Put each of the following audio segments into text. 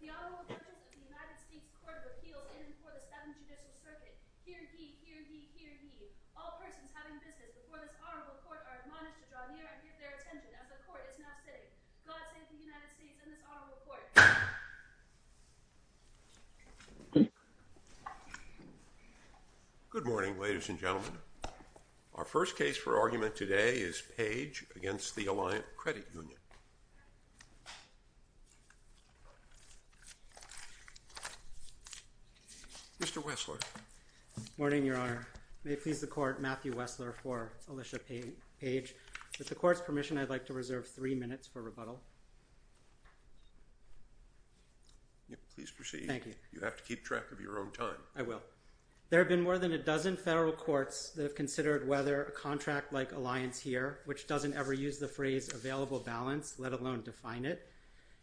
The Honorable Judges of the United States Court of Appeals in and before the Seventh Judicial Circuit, hear ye, hear ye, hear ye. All persons having business before this Honorable Court are admonished to draw near and give their attention as the Court is now sitting. God save the United States and this Honorable Court. Good morning, ladies and gentlemen. Our first case for argument today is Page v. Alliant Credit Union. Mr. Wessler. Good morning, Your Honor. May it please the Court, Matthew Wessler for Alicia Page. With the Court's permission, I'd like to reserve three minutes for rebuttal. Please proceed. Thank you. You have to keep track of your own time. I will. There have been more than a dozen federal courts that have considered whether a contract like Alliance here, which doesn't ever use the phrase available balance, let alone define it,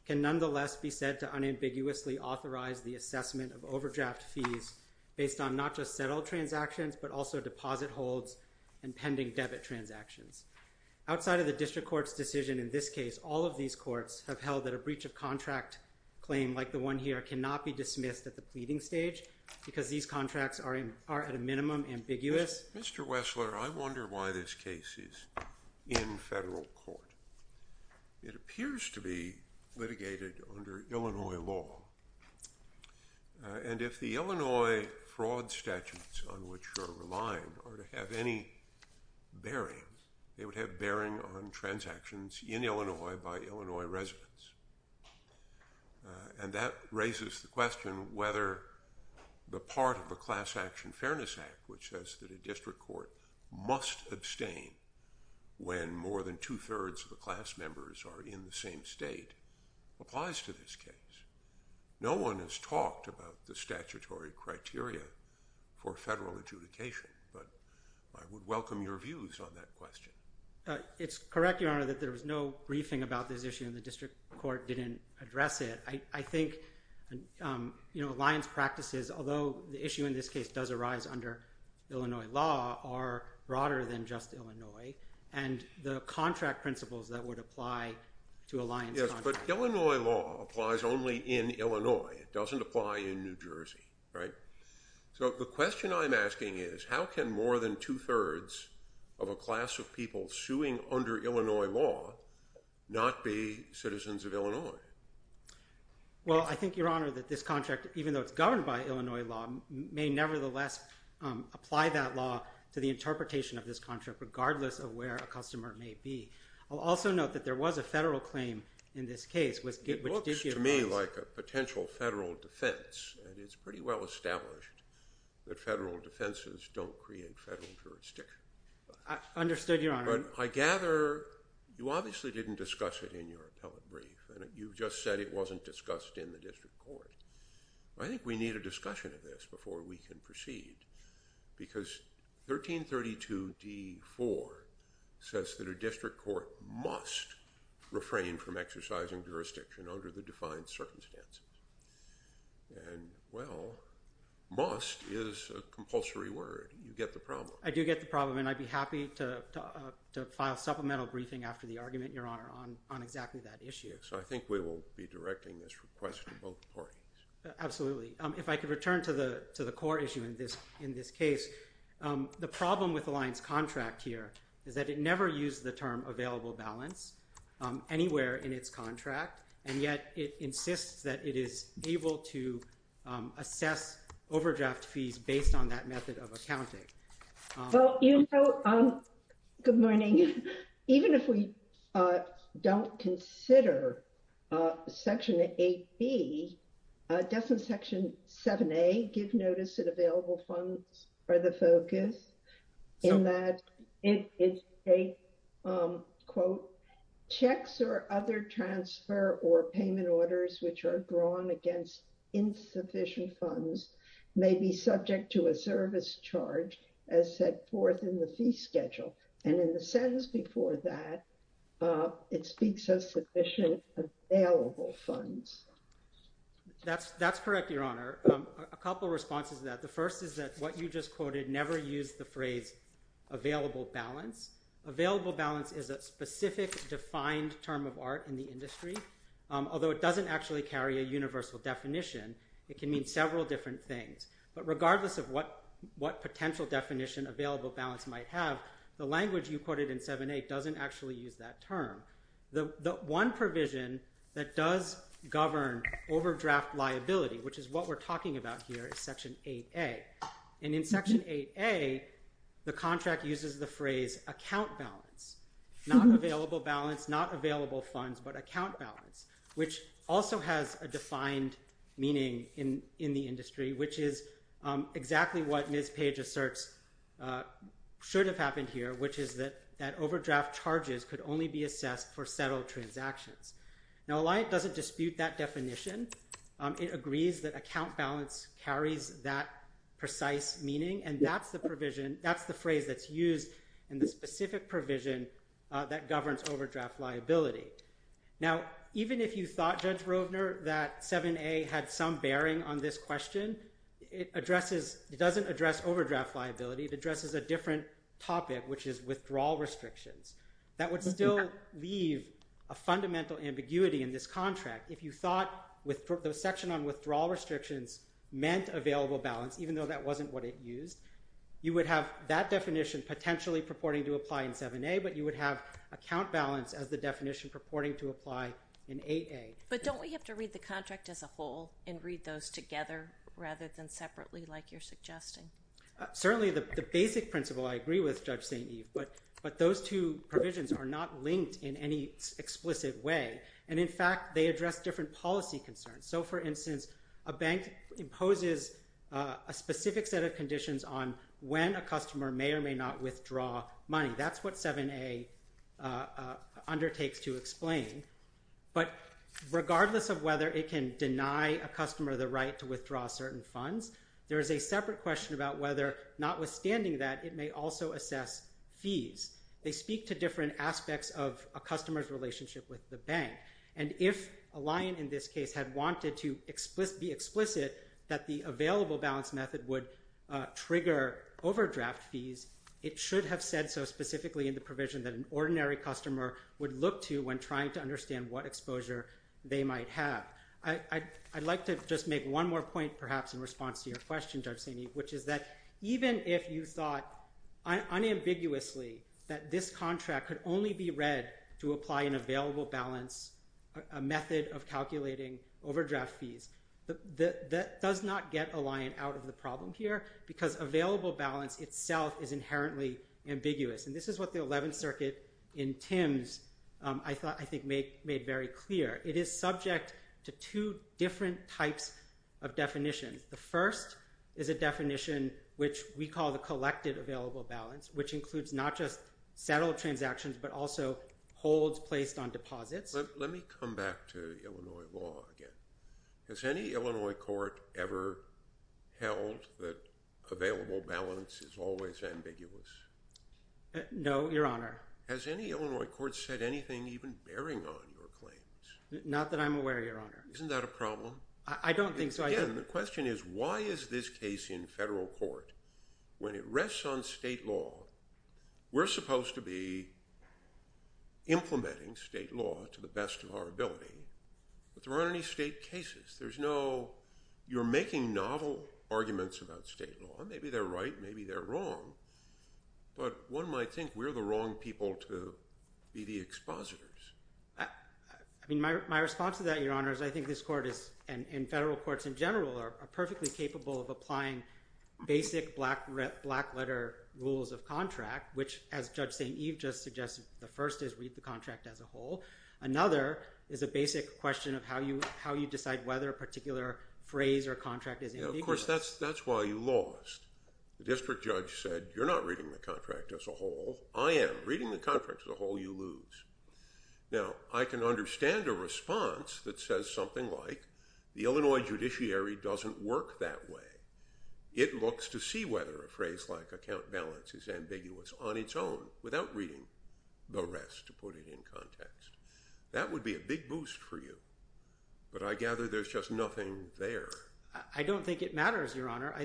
can nonetheless be said to unambiguously authorize the assessment of overdraft fees based on not just settled transactions but also deposit holds and pending debit transactions. Outside of the District Court's decision in this case, all of these courts have held that a breach of contract claim like the one here cannot be dismissed at the pleading stage because these contracts are at a minimum ambiguous. Mr. Wessler, I wonder why this case is in federal court. It appears to be litigated under Illinois law. And if the Illinois fraud statutes on which you're relying are to have any bearing, they would have bearing on transactions in Illinois by Illinois residents. And that raises the question whether the part of the Class Action Fairness Act, which says that a district court must abstain when more than two-thirds of the class members are in the same state, applies to this case. No one has talked about the statutory criteria for federal adjudication, but I would welcome your views on that question. It's correct, Your Honor, that there was no briefing about this issue and the District Court didn't address it. I think alliance practices, although the issue in this case does arise under Illinois law, are broader than just Illinois and the contract principles that would apply to alliance contracts. But Illinois law applies only in Illinois. It doesn't apply in New Jersey, right? So the question I'm asking is how can more than two-thirds of a class of people suing under Illinois law not be citizens of Illinois? Well, I think, Your Honor, that this contract, even though it's governed by Illinois law, may nevertheless apply that law to the interpretation of this contract, regardless of where a customer may be. I'll also note that there was a federal claim in this case. It looks to me like a potential federal defense, and it's pretty well established that federal defenses don't create federal jurisdiction. Understood, Your Honor. I gather you obviously didn't discuss it in your appellate brief, and you just said it wasn't discussed in the District Court. I think we need a discussion of this before we can proceed, because 1332d.4 says that a district court must refrain from exercising jurisdiction under the defined circumstances. And, well, must is a compulsory word. You get the problem. And I'd be happy to file supplemental briefing after the argument, Your Honor, on exactly that issue. So I think we will be directing this request to both parties. Absolutely. If I could return to the core issue in this case, the problem with Alliance contract here is that it never used the term available balance anywhere in its contract, and yet it insists that it is able to assess overdraft fees based on that method of accounting. Well, you know, good morning. Even if we don't consider Section 8B, doesn't Section 7A give notice that available funds are the focus? That's correct, Your Honor. A couple of responses to that. The first is that what you just quoted never used the term available balance anywhere in the contract. Available balance is a specific defined term of art in the industry. Although it doesn't actually carry a universal definition, it can mean several different things. But regardless of what potential definition available balance might have, the language you quoted in 7A doesn't actually use that term. The one provision that does govern overdraft liability, which is what we're talking about here, is Section 8A. And in Section 8A, the contract uses the phrase account balance, not available balance, not available funds, but account balance, which also has a defined meaning in the industry, which is exactly what Ms. Page asserts should have happened here, which is that overdraft charges could only be assessed for settled transactions. Now, Alliant doesn't dispute that definition. It agrees that account balance carries that precise meaning, and that's the phrase that's used in the specific provision that governs overdraft liability. Now, even if you thought, Judge Rovner, that 7A had some bearing on this question, it doesn't address overdraft liability. It addresses a different topic, which is withdrawal restrictions. That would still leave a fundamental ambiguity in this contract. If you thought the section on withdrawal restrictions meant available balance, even though that wasn't what it used, you would have that definition potentially purporting to apply in 7A, but you would have account balance as the definition purporting to apply in 8A. But don't we have to read the contract as a whole and read those together rather than separately like you're suggesting? Certainly, the basic principle I agree with, Judge St. Eve, but those two provisions are not linked in any explicit way. And, in fact, they address different policy concerns. So, for instance, a bank imposes a specific set of conditions on when a customer may or may not withdraw money. That's what 7A undertakes to explain. But regardless of whether it can deny a customer the right to withdraw certain funds, there is a separate question about whether, notwithstanding that, it may also assess fees. They speak to different aspects of a customer's relationship with the bank. And if Alliant, in this case, had wanted to be explicit that the available balance method would trigger overdraft fees, it should have said so specifically in the provision that an ordinary customer would look to when trying to understand what exposure they might have. I'd like to just make one more point, perhaps, in response to your question, Judge St. Eve, which is that even if you thought unambiguously that this contract could only be read to apply an available balance method of calculating overdraft fees, that does not get Alliant out of the problem here because available balance itself is inherently ambiguous. And this is what the Eleventh Circuit in Thames, I think, made very clear. It is subject to two different types of definitions. The first is a definition which we call the collected available balance, which includes not just settled transactions but also holds placed on deposits. Let me come back to Illinois law again. Has any Illinois court ever held that available balance is always ambiguous? No, Your Honor. Has any Illinois court said anything even bearing on your claims? Not that I'm aware, Your Honor. Isn't that a problem? I don't think so. Again, the question is why is this case in federal court when it rests on state law? We're supposed to be implementing state law to the best of our ability, but there aren't any state cases. You're making novel arguments about state law. Maybe they're right. Maybe they're wrong. But one might think we're the wrong people to be the expositors. My response to that, Your Honor, is I think this court and federal courts in general are perfectly capable of applying basic black-letter rules of contract, which, as Judge St. Eve just suggested, the first is read the contract as a whole. Another is a basic question of how you decide whether a particular phrase or contract is ambiguous. Of course, that's why you lost. The district judge said you're not reading the contract as a whole. I am. Reading the contract as a whole, you lose. Now, I can understand a response that says something like the Illinois judiciary doesn't work that way. It looks to see whether a phrase like account balance is ambiguous on its own without reading the rest to put it in context. That would be a big boost for you, but I gather there's just nothing there. I don't think it matters, Your Honor. No.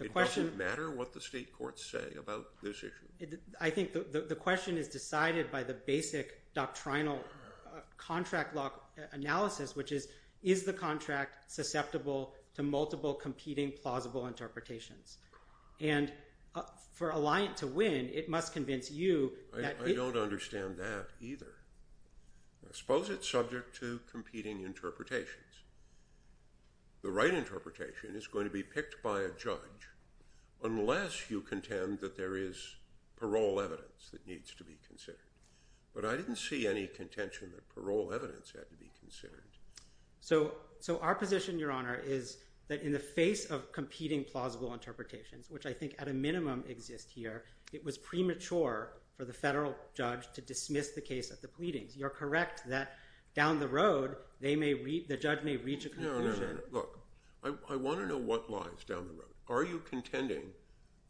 It doesn't matter what the state courts say about this issue. I think the question is decided by the basic doctrinal contract law analysis, which is, is the contract susceptible to multiple competing plausible interpretations? And for a lie to win, it must convince you that – I don't understand that either. Suppose it's subject to competing interpretations. The right interpretation is going to be picked by a judge unless you contend that there is parole evidence that needs to be considered. But I didn't see any contention that parole evidence had to be considered. So our position, Your Honor, is that in the face of competing plausible interpretations, which I think at a minimum exist here, it was premature for the federal judge to dismiss the case at the pleadings. You're correct that down the road, the judge may reach a conclusion. No, no, no. Look, I want to know what lies down the road. Are you contending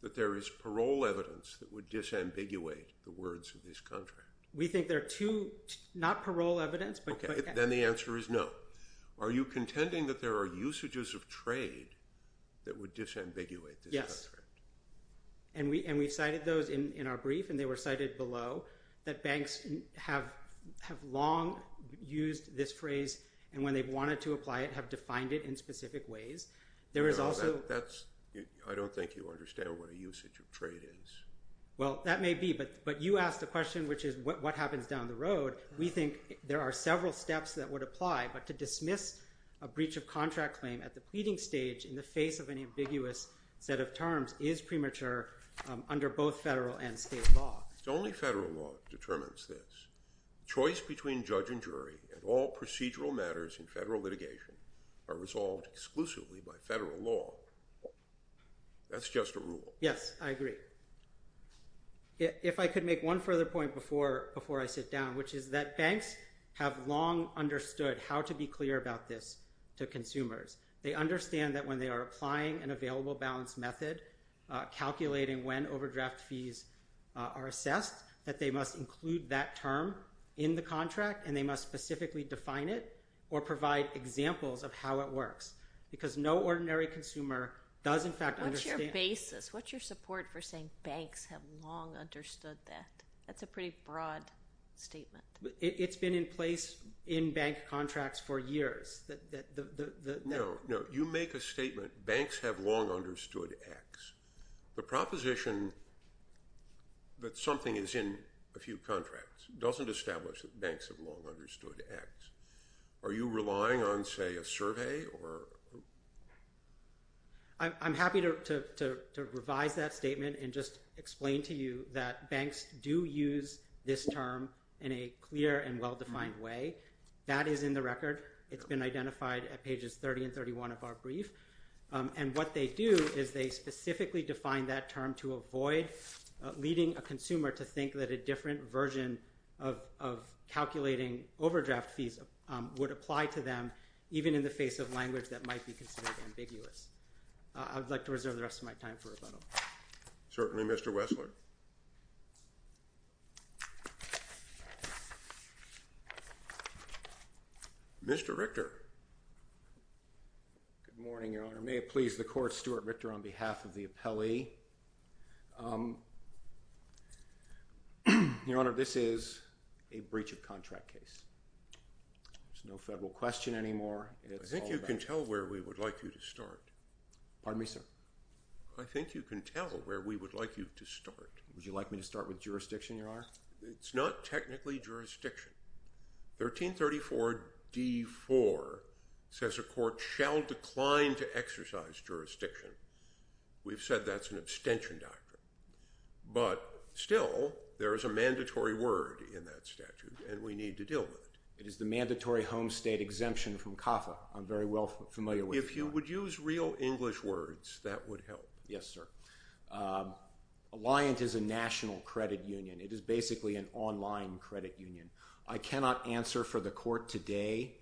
that there is parole evidence that would disambiguate the words of this contract? We think there are two – not parole evidence, but – Okay. Then the answer is no. Are you contending that there are usages of trade that would disambiguate this contract? Yes. And we cited those in our brief, and they were cited below, that banks have long used this phrase, and when they've wanted to apply it, have defined it in specific ways. There is also – I don't think you understand what a usage of trade is. Well, that may be, but you asked the question, which is what happens down the road. We think there are several steps that would apply, but to dismiss a breach of contract claim at the pleading stage in the face of an ambiguous set of terms is premature under both federal and state law. Only federal law determines this. Choice between judge and jury and all procedural matters in federal litigation are resolved exclusively by federal law. That's just a rule. Yes, I agree. If I could make one further point before I sit down, which is that banks have long understood how to be clear about this to consumers. They understand that when they are applying an available balance method, calculating when overdraft fees are assessed, that they must include that term in the contract, and they must specifically define it or provide examples of how it works, because no ordinary consumer does, in fact, understand it. What's your basis? What's your support for saying banks have long understood that? That's a pretty broad statement. It's been in place in bank contracts for years. No, no. You make a statement, banks have long understood X. The proposition that something is in a few contracts doesn't establish that banks have long understood X. I'm happy to revise that statement and just explain to you that banks do use this term in a clear and well-defined way. That is in the record. It's been identified at pages 30 and 31 of our brief. And what they do is they specifically define that term to avoid leading a consumer to think that a different version of calculating overdraft fees would apply to them, even in the face of language that might be considered ambiguous. I would like to reserve the rest of my time for rebuttal. Certainly, Mr. Wessler. Mr. Richter. Good morning, Your Honor. May it please the Court, Stuart Richter on behalf of the appellee. Your Honor, this is a breach of contract case. There's no federal question anymore. I think you can tell where we would like you to start. Pardon me, sir? I think you can tell where we would like you to start. Would you like me to start with jurisdiction, Your Honor? It's not technically jurisdiction. 1334d.4 says a court shall decline to exercise jurisdiction. We've said that's an abstention doctrine. But still, there is a mandatory word in that statute, and we need to deal with it. It is the mandatory home state exemption from CAFA. I'm very well familiar with that. If you would use real English words, that would help. Yes, sir. Alliant is a national credit union. It is basically an online credit union. I cannot answer for the Court today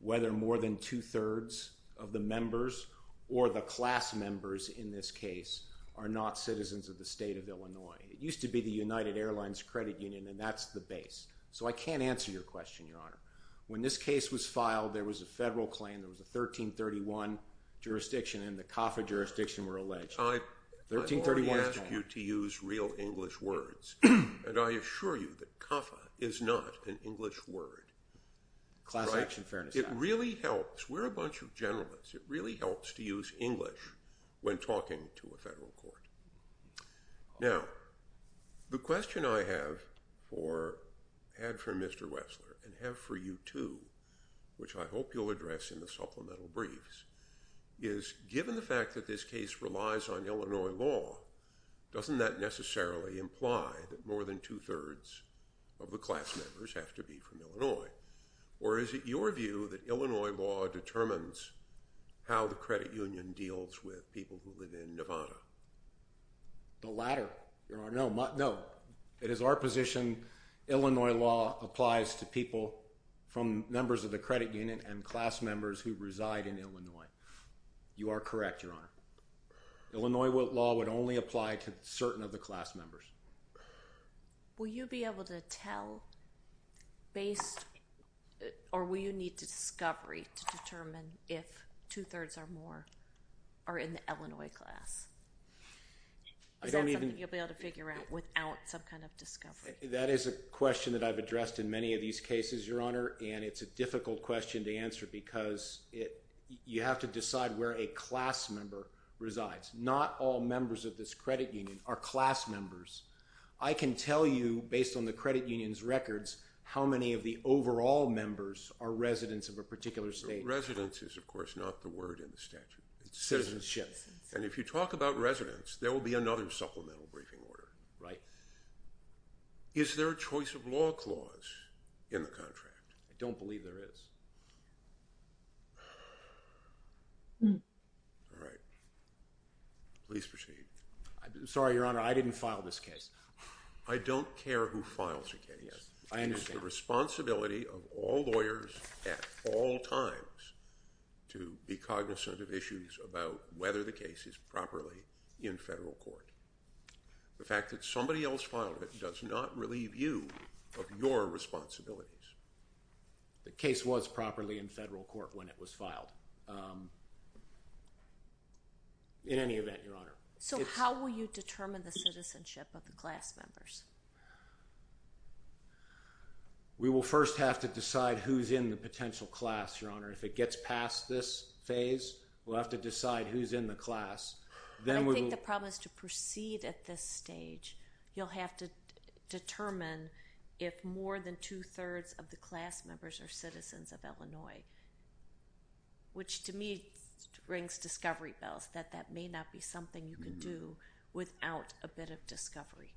whether more than two-thirds of the members or the class members in this case are not citizens of the state of Illinois. It used to be the United Airlines Credit Union, and that's the base. So I can't answer your question, Your Honor. When this case was filed, there was a federal claim. There was a 1331 jurisdiction, and the CAFA jurisdiction, we're alleged. I've already asked you to use real English words, and I assure you that CAFA is not an English word. Class Action Fairness Act. It really helps. We're a bunch of generalists. It really helps to use English when talking to a federal court. Now, the question I have for Mr. Wessler and have for you too, which I hope you'll address in the supplemental briefs, is given the fact that this case relies on Illinois law, doesn't that necessarily imply that more than two-thirds of the class members have to be from Illinois? Or is it your view that Illinois law determines how the credit union deals with people who live in Nevada? The latter, Your Honor. No. It is our position Illinois law applies to people from members of the credit union and class members who reside in Illinois. You are correct, Your Honor. Illinois law would only apply to certain of the class members. Will you be able to tell based or will you need discovery to determine if two-thirds or more are in the Illinois class? Is that something you'll be able to figure out without some kind of discovery? That is a question that I've addressed in many of these cases, Your Honor, and it's a difficult question to answer because you have to decide where a class member resides. Not all members of this credit union are class members. I can tell you based on the credit union's records how many of the overall members are residents of a particular state. Residence is, of course, not the word in the statute. Citizenship. Citizenship. And if you talk about residents, there will be another supplemental briefing order. Right. Is there a choice of law clause in the contract? I don't believe there is. All right. Please proceed. Sorry, Your Honor, I didn't file this case. I don't care who files a case. I understand. It's the responsibility of all lawyers at all times to be cognizant of issues about whether the case is properly in federal court. The fact that somebody else filed it does not relieve you of your responsibilities. The case was properly in federal court when it was filed. In any event, Your Honor. So how will you determine the citizenship of the class members? We will first have to decide who's in the potential class, Your Honor. If it gets past this phase, we'll have to decide who's in the class. I think the problem is to proceed at this stage. You'll have to determine if more than two-thirds of the class members are citizens of Illinois, which to me rings discovery bells, that that may not be something you can do without a bit of discovery.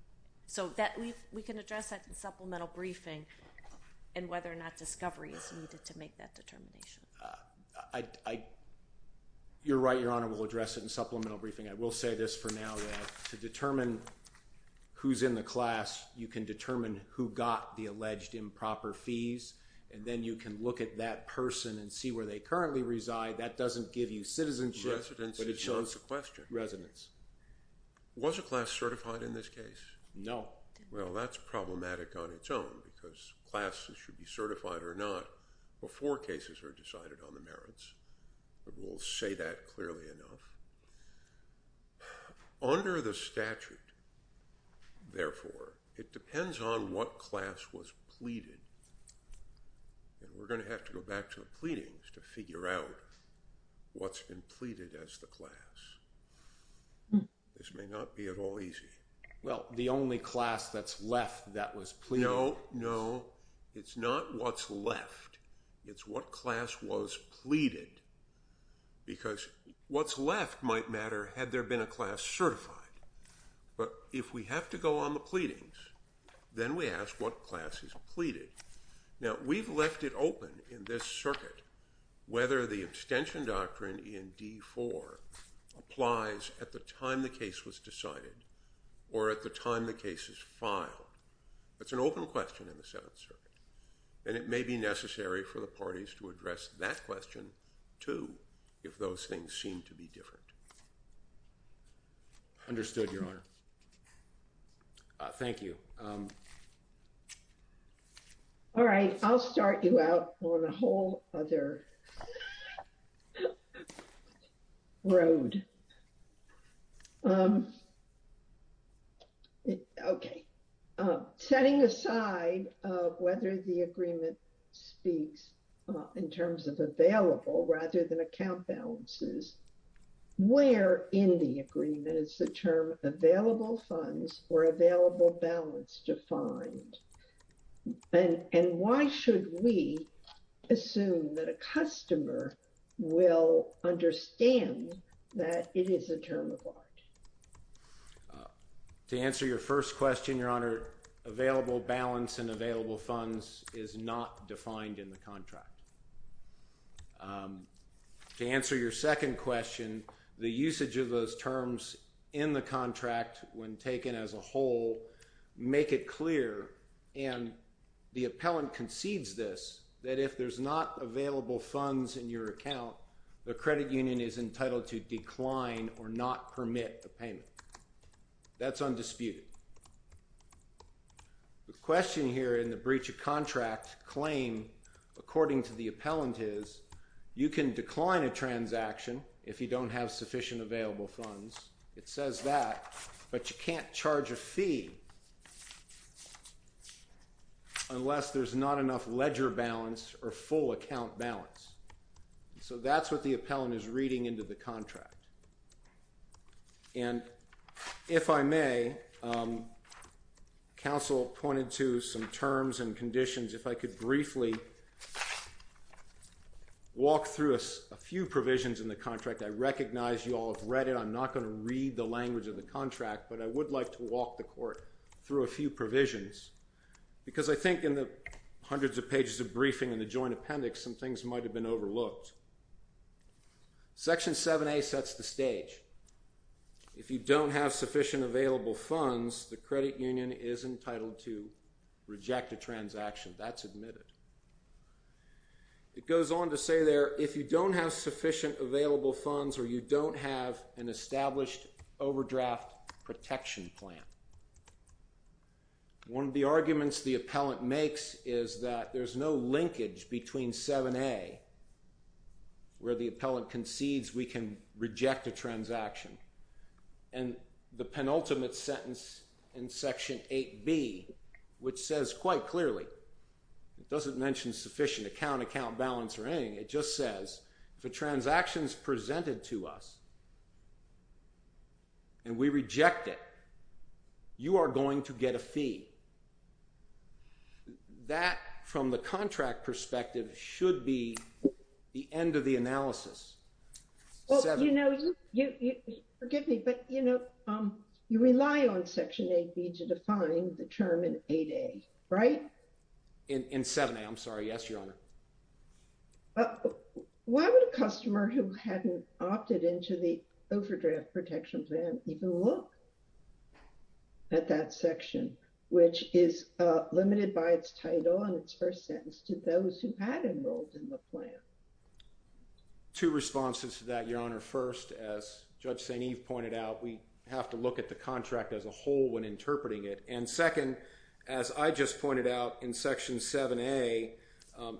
So we can address that in supplemental briefing and whether or not discovery is needed to make that determination. You're right, Your Honor. We'll address it in supplemental briefing. I will say this for now, that to determine who's in the class, you can determine who got the alleged improper fees, and then you can look at that person and see where they currently reside. That doesn't give you citizenship. Residence is not the question. Residence. Was a class certified in this case? No. Well, that's problematic on its own because classes should be certified or not before cases are decided on the merits. We'll say that clearly enough. Under the statute, therefore, it depends on what class was pleaded, and we're going to have to go back to the pleadings to figure out what's been pleaded as the class. This may not be at all easy. Well, the only class that's left that was pleaded. No, no. It's not what's left. It's what class was pleaded because what's left might matter had there been a class certified. But if we have to go on the pleadings, then we ask what class is pleaded. Now, we've left it open in this circuit whether the extension doctrine in D4 applies at the time the case was decided or at the time the case is filed. That's an open question in the Seventh Circuit, and it may be necessary for the parties to address that question, too, if those things seem to be different. Understood, Your Honor. Thank you. All right, I'll start you out on a whole other road. Okay. Setting aside whether the agreement speaks in terms of available rather than account balances, where in the agreement is the term available funds or available balance defined? And why should we assume that a customer will understand that it is a term of art? To answer your first question, Your Honor, available balance and available funds is not defined in the contract. To answer your second question, the usage of those terms in the contract when taken as a whole make it clear, and the appellant concedes this, that if there's not available funds in your account, the credit union is entitled to decline or not permit a payment. That's undisputed. The question here in the breach of contract claim, according to the appellant, is you can decline a transaction if you don't have sufficient available funds. It says that, but you can't charge a fee unless there's not enough ledger balance or full account balance. So that's what the appellant is reading into the contract. And if I may, counsel pointed to some terms and conditions. If I could briefly walk through a few provisions in the contract, I recognize you all have read it. I'm not going to read the language of the contract, but I would like to walk the Court through a few provisions because I think in the hundreds of pages of briefing in the joint appendix, some things might have been overlooked. Section 7A sets the stage. If you don't have sufficient available funds, the credit union is entitled to reject a transaction. That's admitted. It goes on to say there, if you don't have sufficient available funds or you don't have an established overdraft protection plan. One of the arguments the appellant makes is that there's no linkage between 7A, where the appellant concedes we can reject a transaction, and the penultimate sentence in Section 8B, which says quite clearly, it doesn't mention sufficient account, account balance or anything, it just says if a transaction is presented to us and we reject it, you are going to get a fee. That, from the contract perspective, should be the end of the analysis. Well, you know, forgive me, but, you know, you rely on Section 8B to define the term in 8A, right? In 7A, I'm sorry, yes, Your Honor. Why would a customer who hadn't opted into the overdraft protection plan even look at that section, which is limited by its title and its first sentence to those who had enrolled in the plan? Two responses to that, Your Honor. First, as Judge St. Eve pointed out, we have to look at the contract as a whole when interpreting it. And second, as I just pointed out, in Section 7A,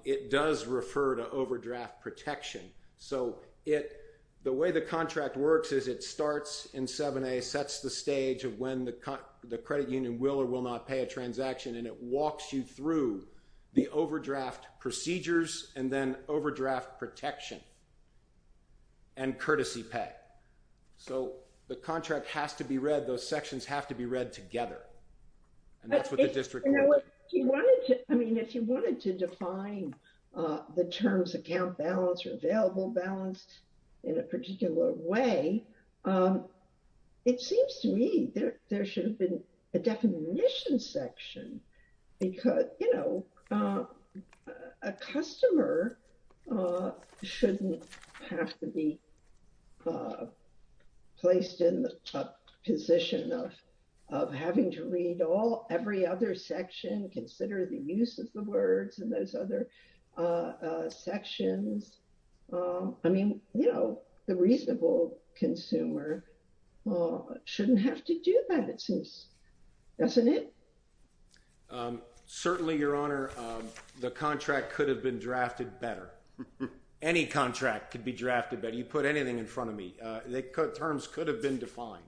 it does refer to overdraft protection. So the way the contract works is it starts in 7A, sets the stage of when the credit union will or will not pay a transaction, and it walks you through the overdraft procedures and then overdraft protection and courtesy pay. So the contract has to be read. Those sections have to be read together. And that's what the district... I mean, if you wanted to define the terms account balance or available balance in a particular way, it seems to me there should have been a definition section because, you know, a customer shouldn't have to be placed in the position of having to read every other section, consider the use of the words in those other sections. I mean, you know, the reasonable consumer shouldn't have to do that, it seems, doesn't it? Certainly, Your Honor. The contract could have been drafted better. Any contract could be drafted better. You put anything in front of me. Terms could have been defined.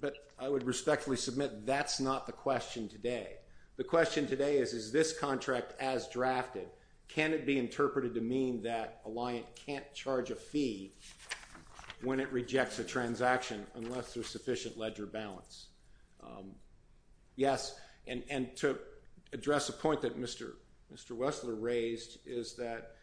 But I would respectfully submit that's not the question today. The question today is, is this contract as drafted, can it be interpreted to mean that a liant can't charge a fee when it rejects a transaction unless there's sufficient ledger balance? Yes, and to address a point that Mr. Wessler raised, is that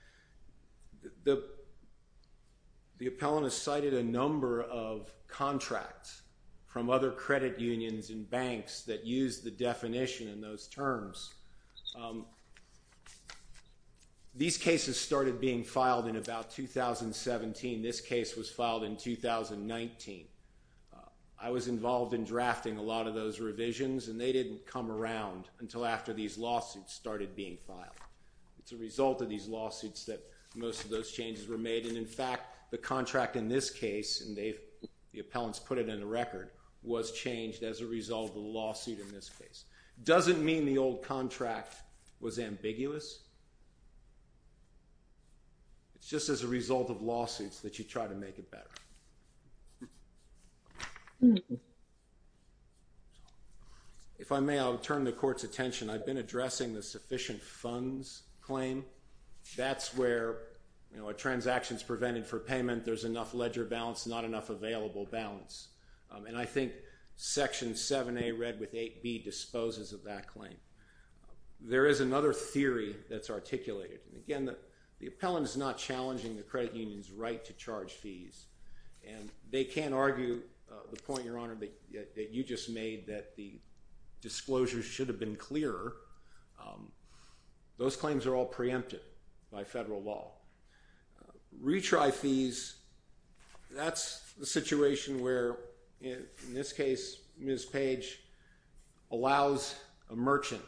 the appellant has cited a number of contracts from other credit unions and banks that use the definition in those terms. These cases started being filed in about 2017. This case was filed in 2019. I was involved in drafting a lot of those revisions and they didn't come around until after these lawsuits started being filed. It's a result of these lawsuits that most of those changes were made. And in fact, the contract in this case, and the appellants put it in the record, was changed as a result of the lawsuit in this case. It doesn't mean the old contract was ambiguous. It's just as a result of lawsuits that you try to make it better. If I may, I'll turn the Court's attention. I've been addressing the sufficient funds claim. That's where a transaction is prevented for payment. There's enough ledger balance, not enough available balance. And I think Section 7A, read with 8B, disposes of that claim. There is another theory that's articulated. Again, the appellant is not challenging the credit union's right to charge fees. And they can't argue the point, Your Honor, that you just made, that the disclosures should have been clearer. Those claims are all preempted by federal law. Retry fees, that's the situation where, in this case, Ms. Page allows a merchant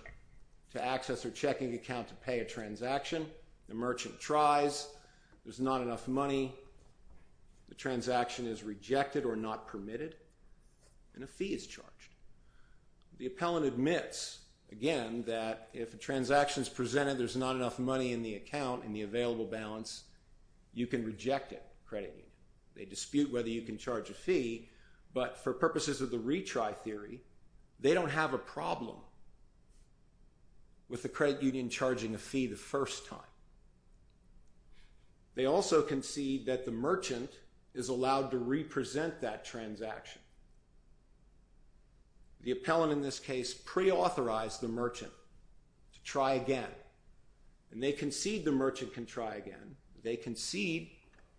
to access her checking account to pay a transaction. The merchant tries. There's not enough money. The transaction is rejected or not permitted. And a fee is charged. The appellant admits, again, that if a transaction is presented, there's not enough money in the account, in the available balance, you can reject it, credit union. They dispute whether you can charge a fee, but for purposes of the retry theory, they don't have a problem with the credit union charging a fee the first time. They also concede that the merchant is allowed to represent that transaction. The appellant, in this case, preauthorized the merchant to try again. And they concede the merchant can try again. They concede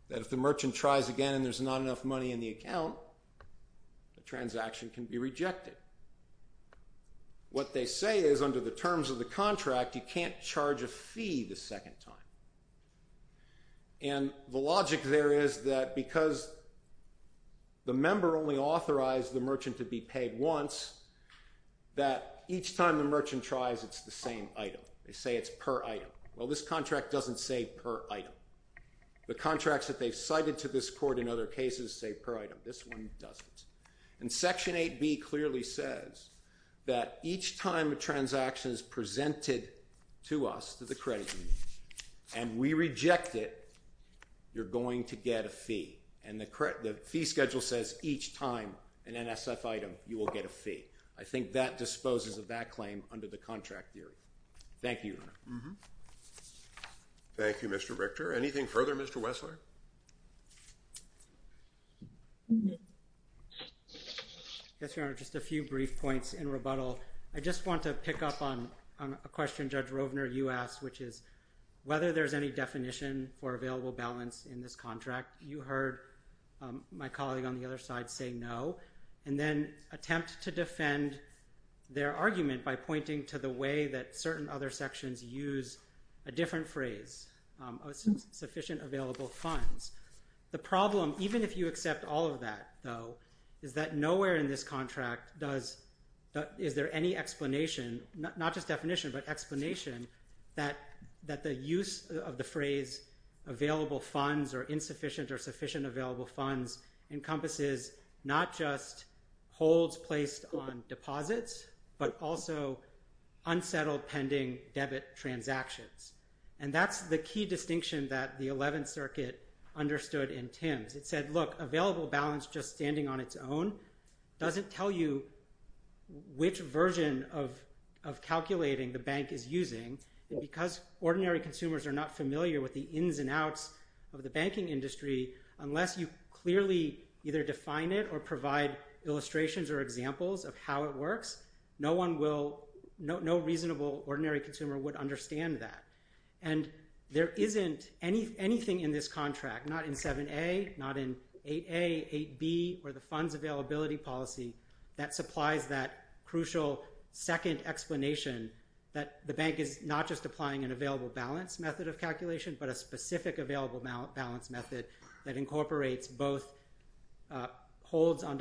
that if the merchant tries again and there's not enough money in the account, the transaction can be rejected. What they say is, under the terms of the contract, you can't charge a fee the second time. And the logic there is that because the member only authorized the merchant to be paid once, that each time the merchant tries, it's the same item. They say it's per item. Well, this contract doesn't say per item. The contracts that they've cited to this court in other cases say per item. This one doesn't. And Section 8B clearly says that each time a transaction is presented to us, to the credit union, and we reject it, you're going to get a fee. And the fee schedule says each time an NSF item, you will get a fee. I think that disposes of that claim under the contract theory. Thank you. Thank you, Mr. Richter. Anything further, Mr. Wessler? Yes, Your Honor, just a few brief points in rebuttal. I just want to pick up on a question Judge Rovner, you asked, which is whether there's any definition for available balance in this contract. You heard my colleague on the other side say no. And then attempt to defend their argument by pointing to the way that certain other sections use a different phrase, sufficient available funds. The problem, even if you accept all of that, though, is that nowhere in this contract is there any explanation, not just definition, but explanation, that the use of the phrase available funds or insufficient or sufficient available funds encompasses not just holds placed on deposits, but also unsettled pending debit transactions. And that's the key distinction that the 11th Circuit understood in Tim's. It said, look, available balance just standing on its own doesn't tell you which version of calculating the bank is using. Because ordinary consumers are not familiar with the ins and outs of the banking industry, unless you clearly either define it or provide illustrations or examples of how it works, no reasonable ordinary consumer would understand that. And there isn't anything in this contract, not in 7A, not in 8A, 8B, or the funds availability policy, that supplies that crucial second explanation that the bank is not just applying an available balance method of calculation, but a specific available balance method that incorporates both holds on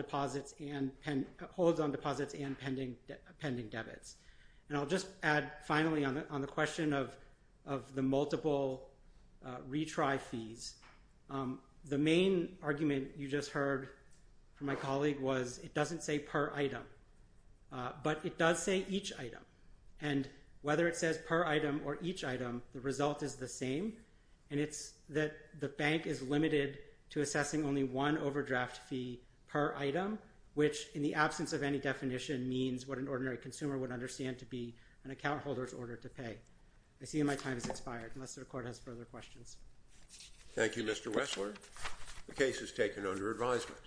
pending debits. And I'll just add finally on the question of the multiple retry fees. The main argument you just heard from my colleague was it doesn't say per item, but it does say each item. And whether it says per item or each item, the result is the same. And it's that the bank is limited to assessing only one overdraft fee per item. And that's what an ordinary consumer would understand to be an account holder's order to pay. I see my time has expired, unless the court has further questions. Thank you, Mr. Wessler. The case is taken under advisement.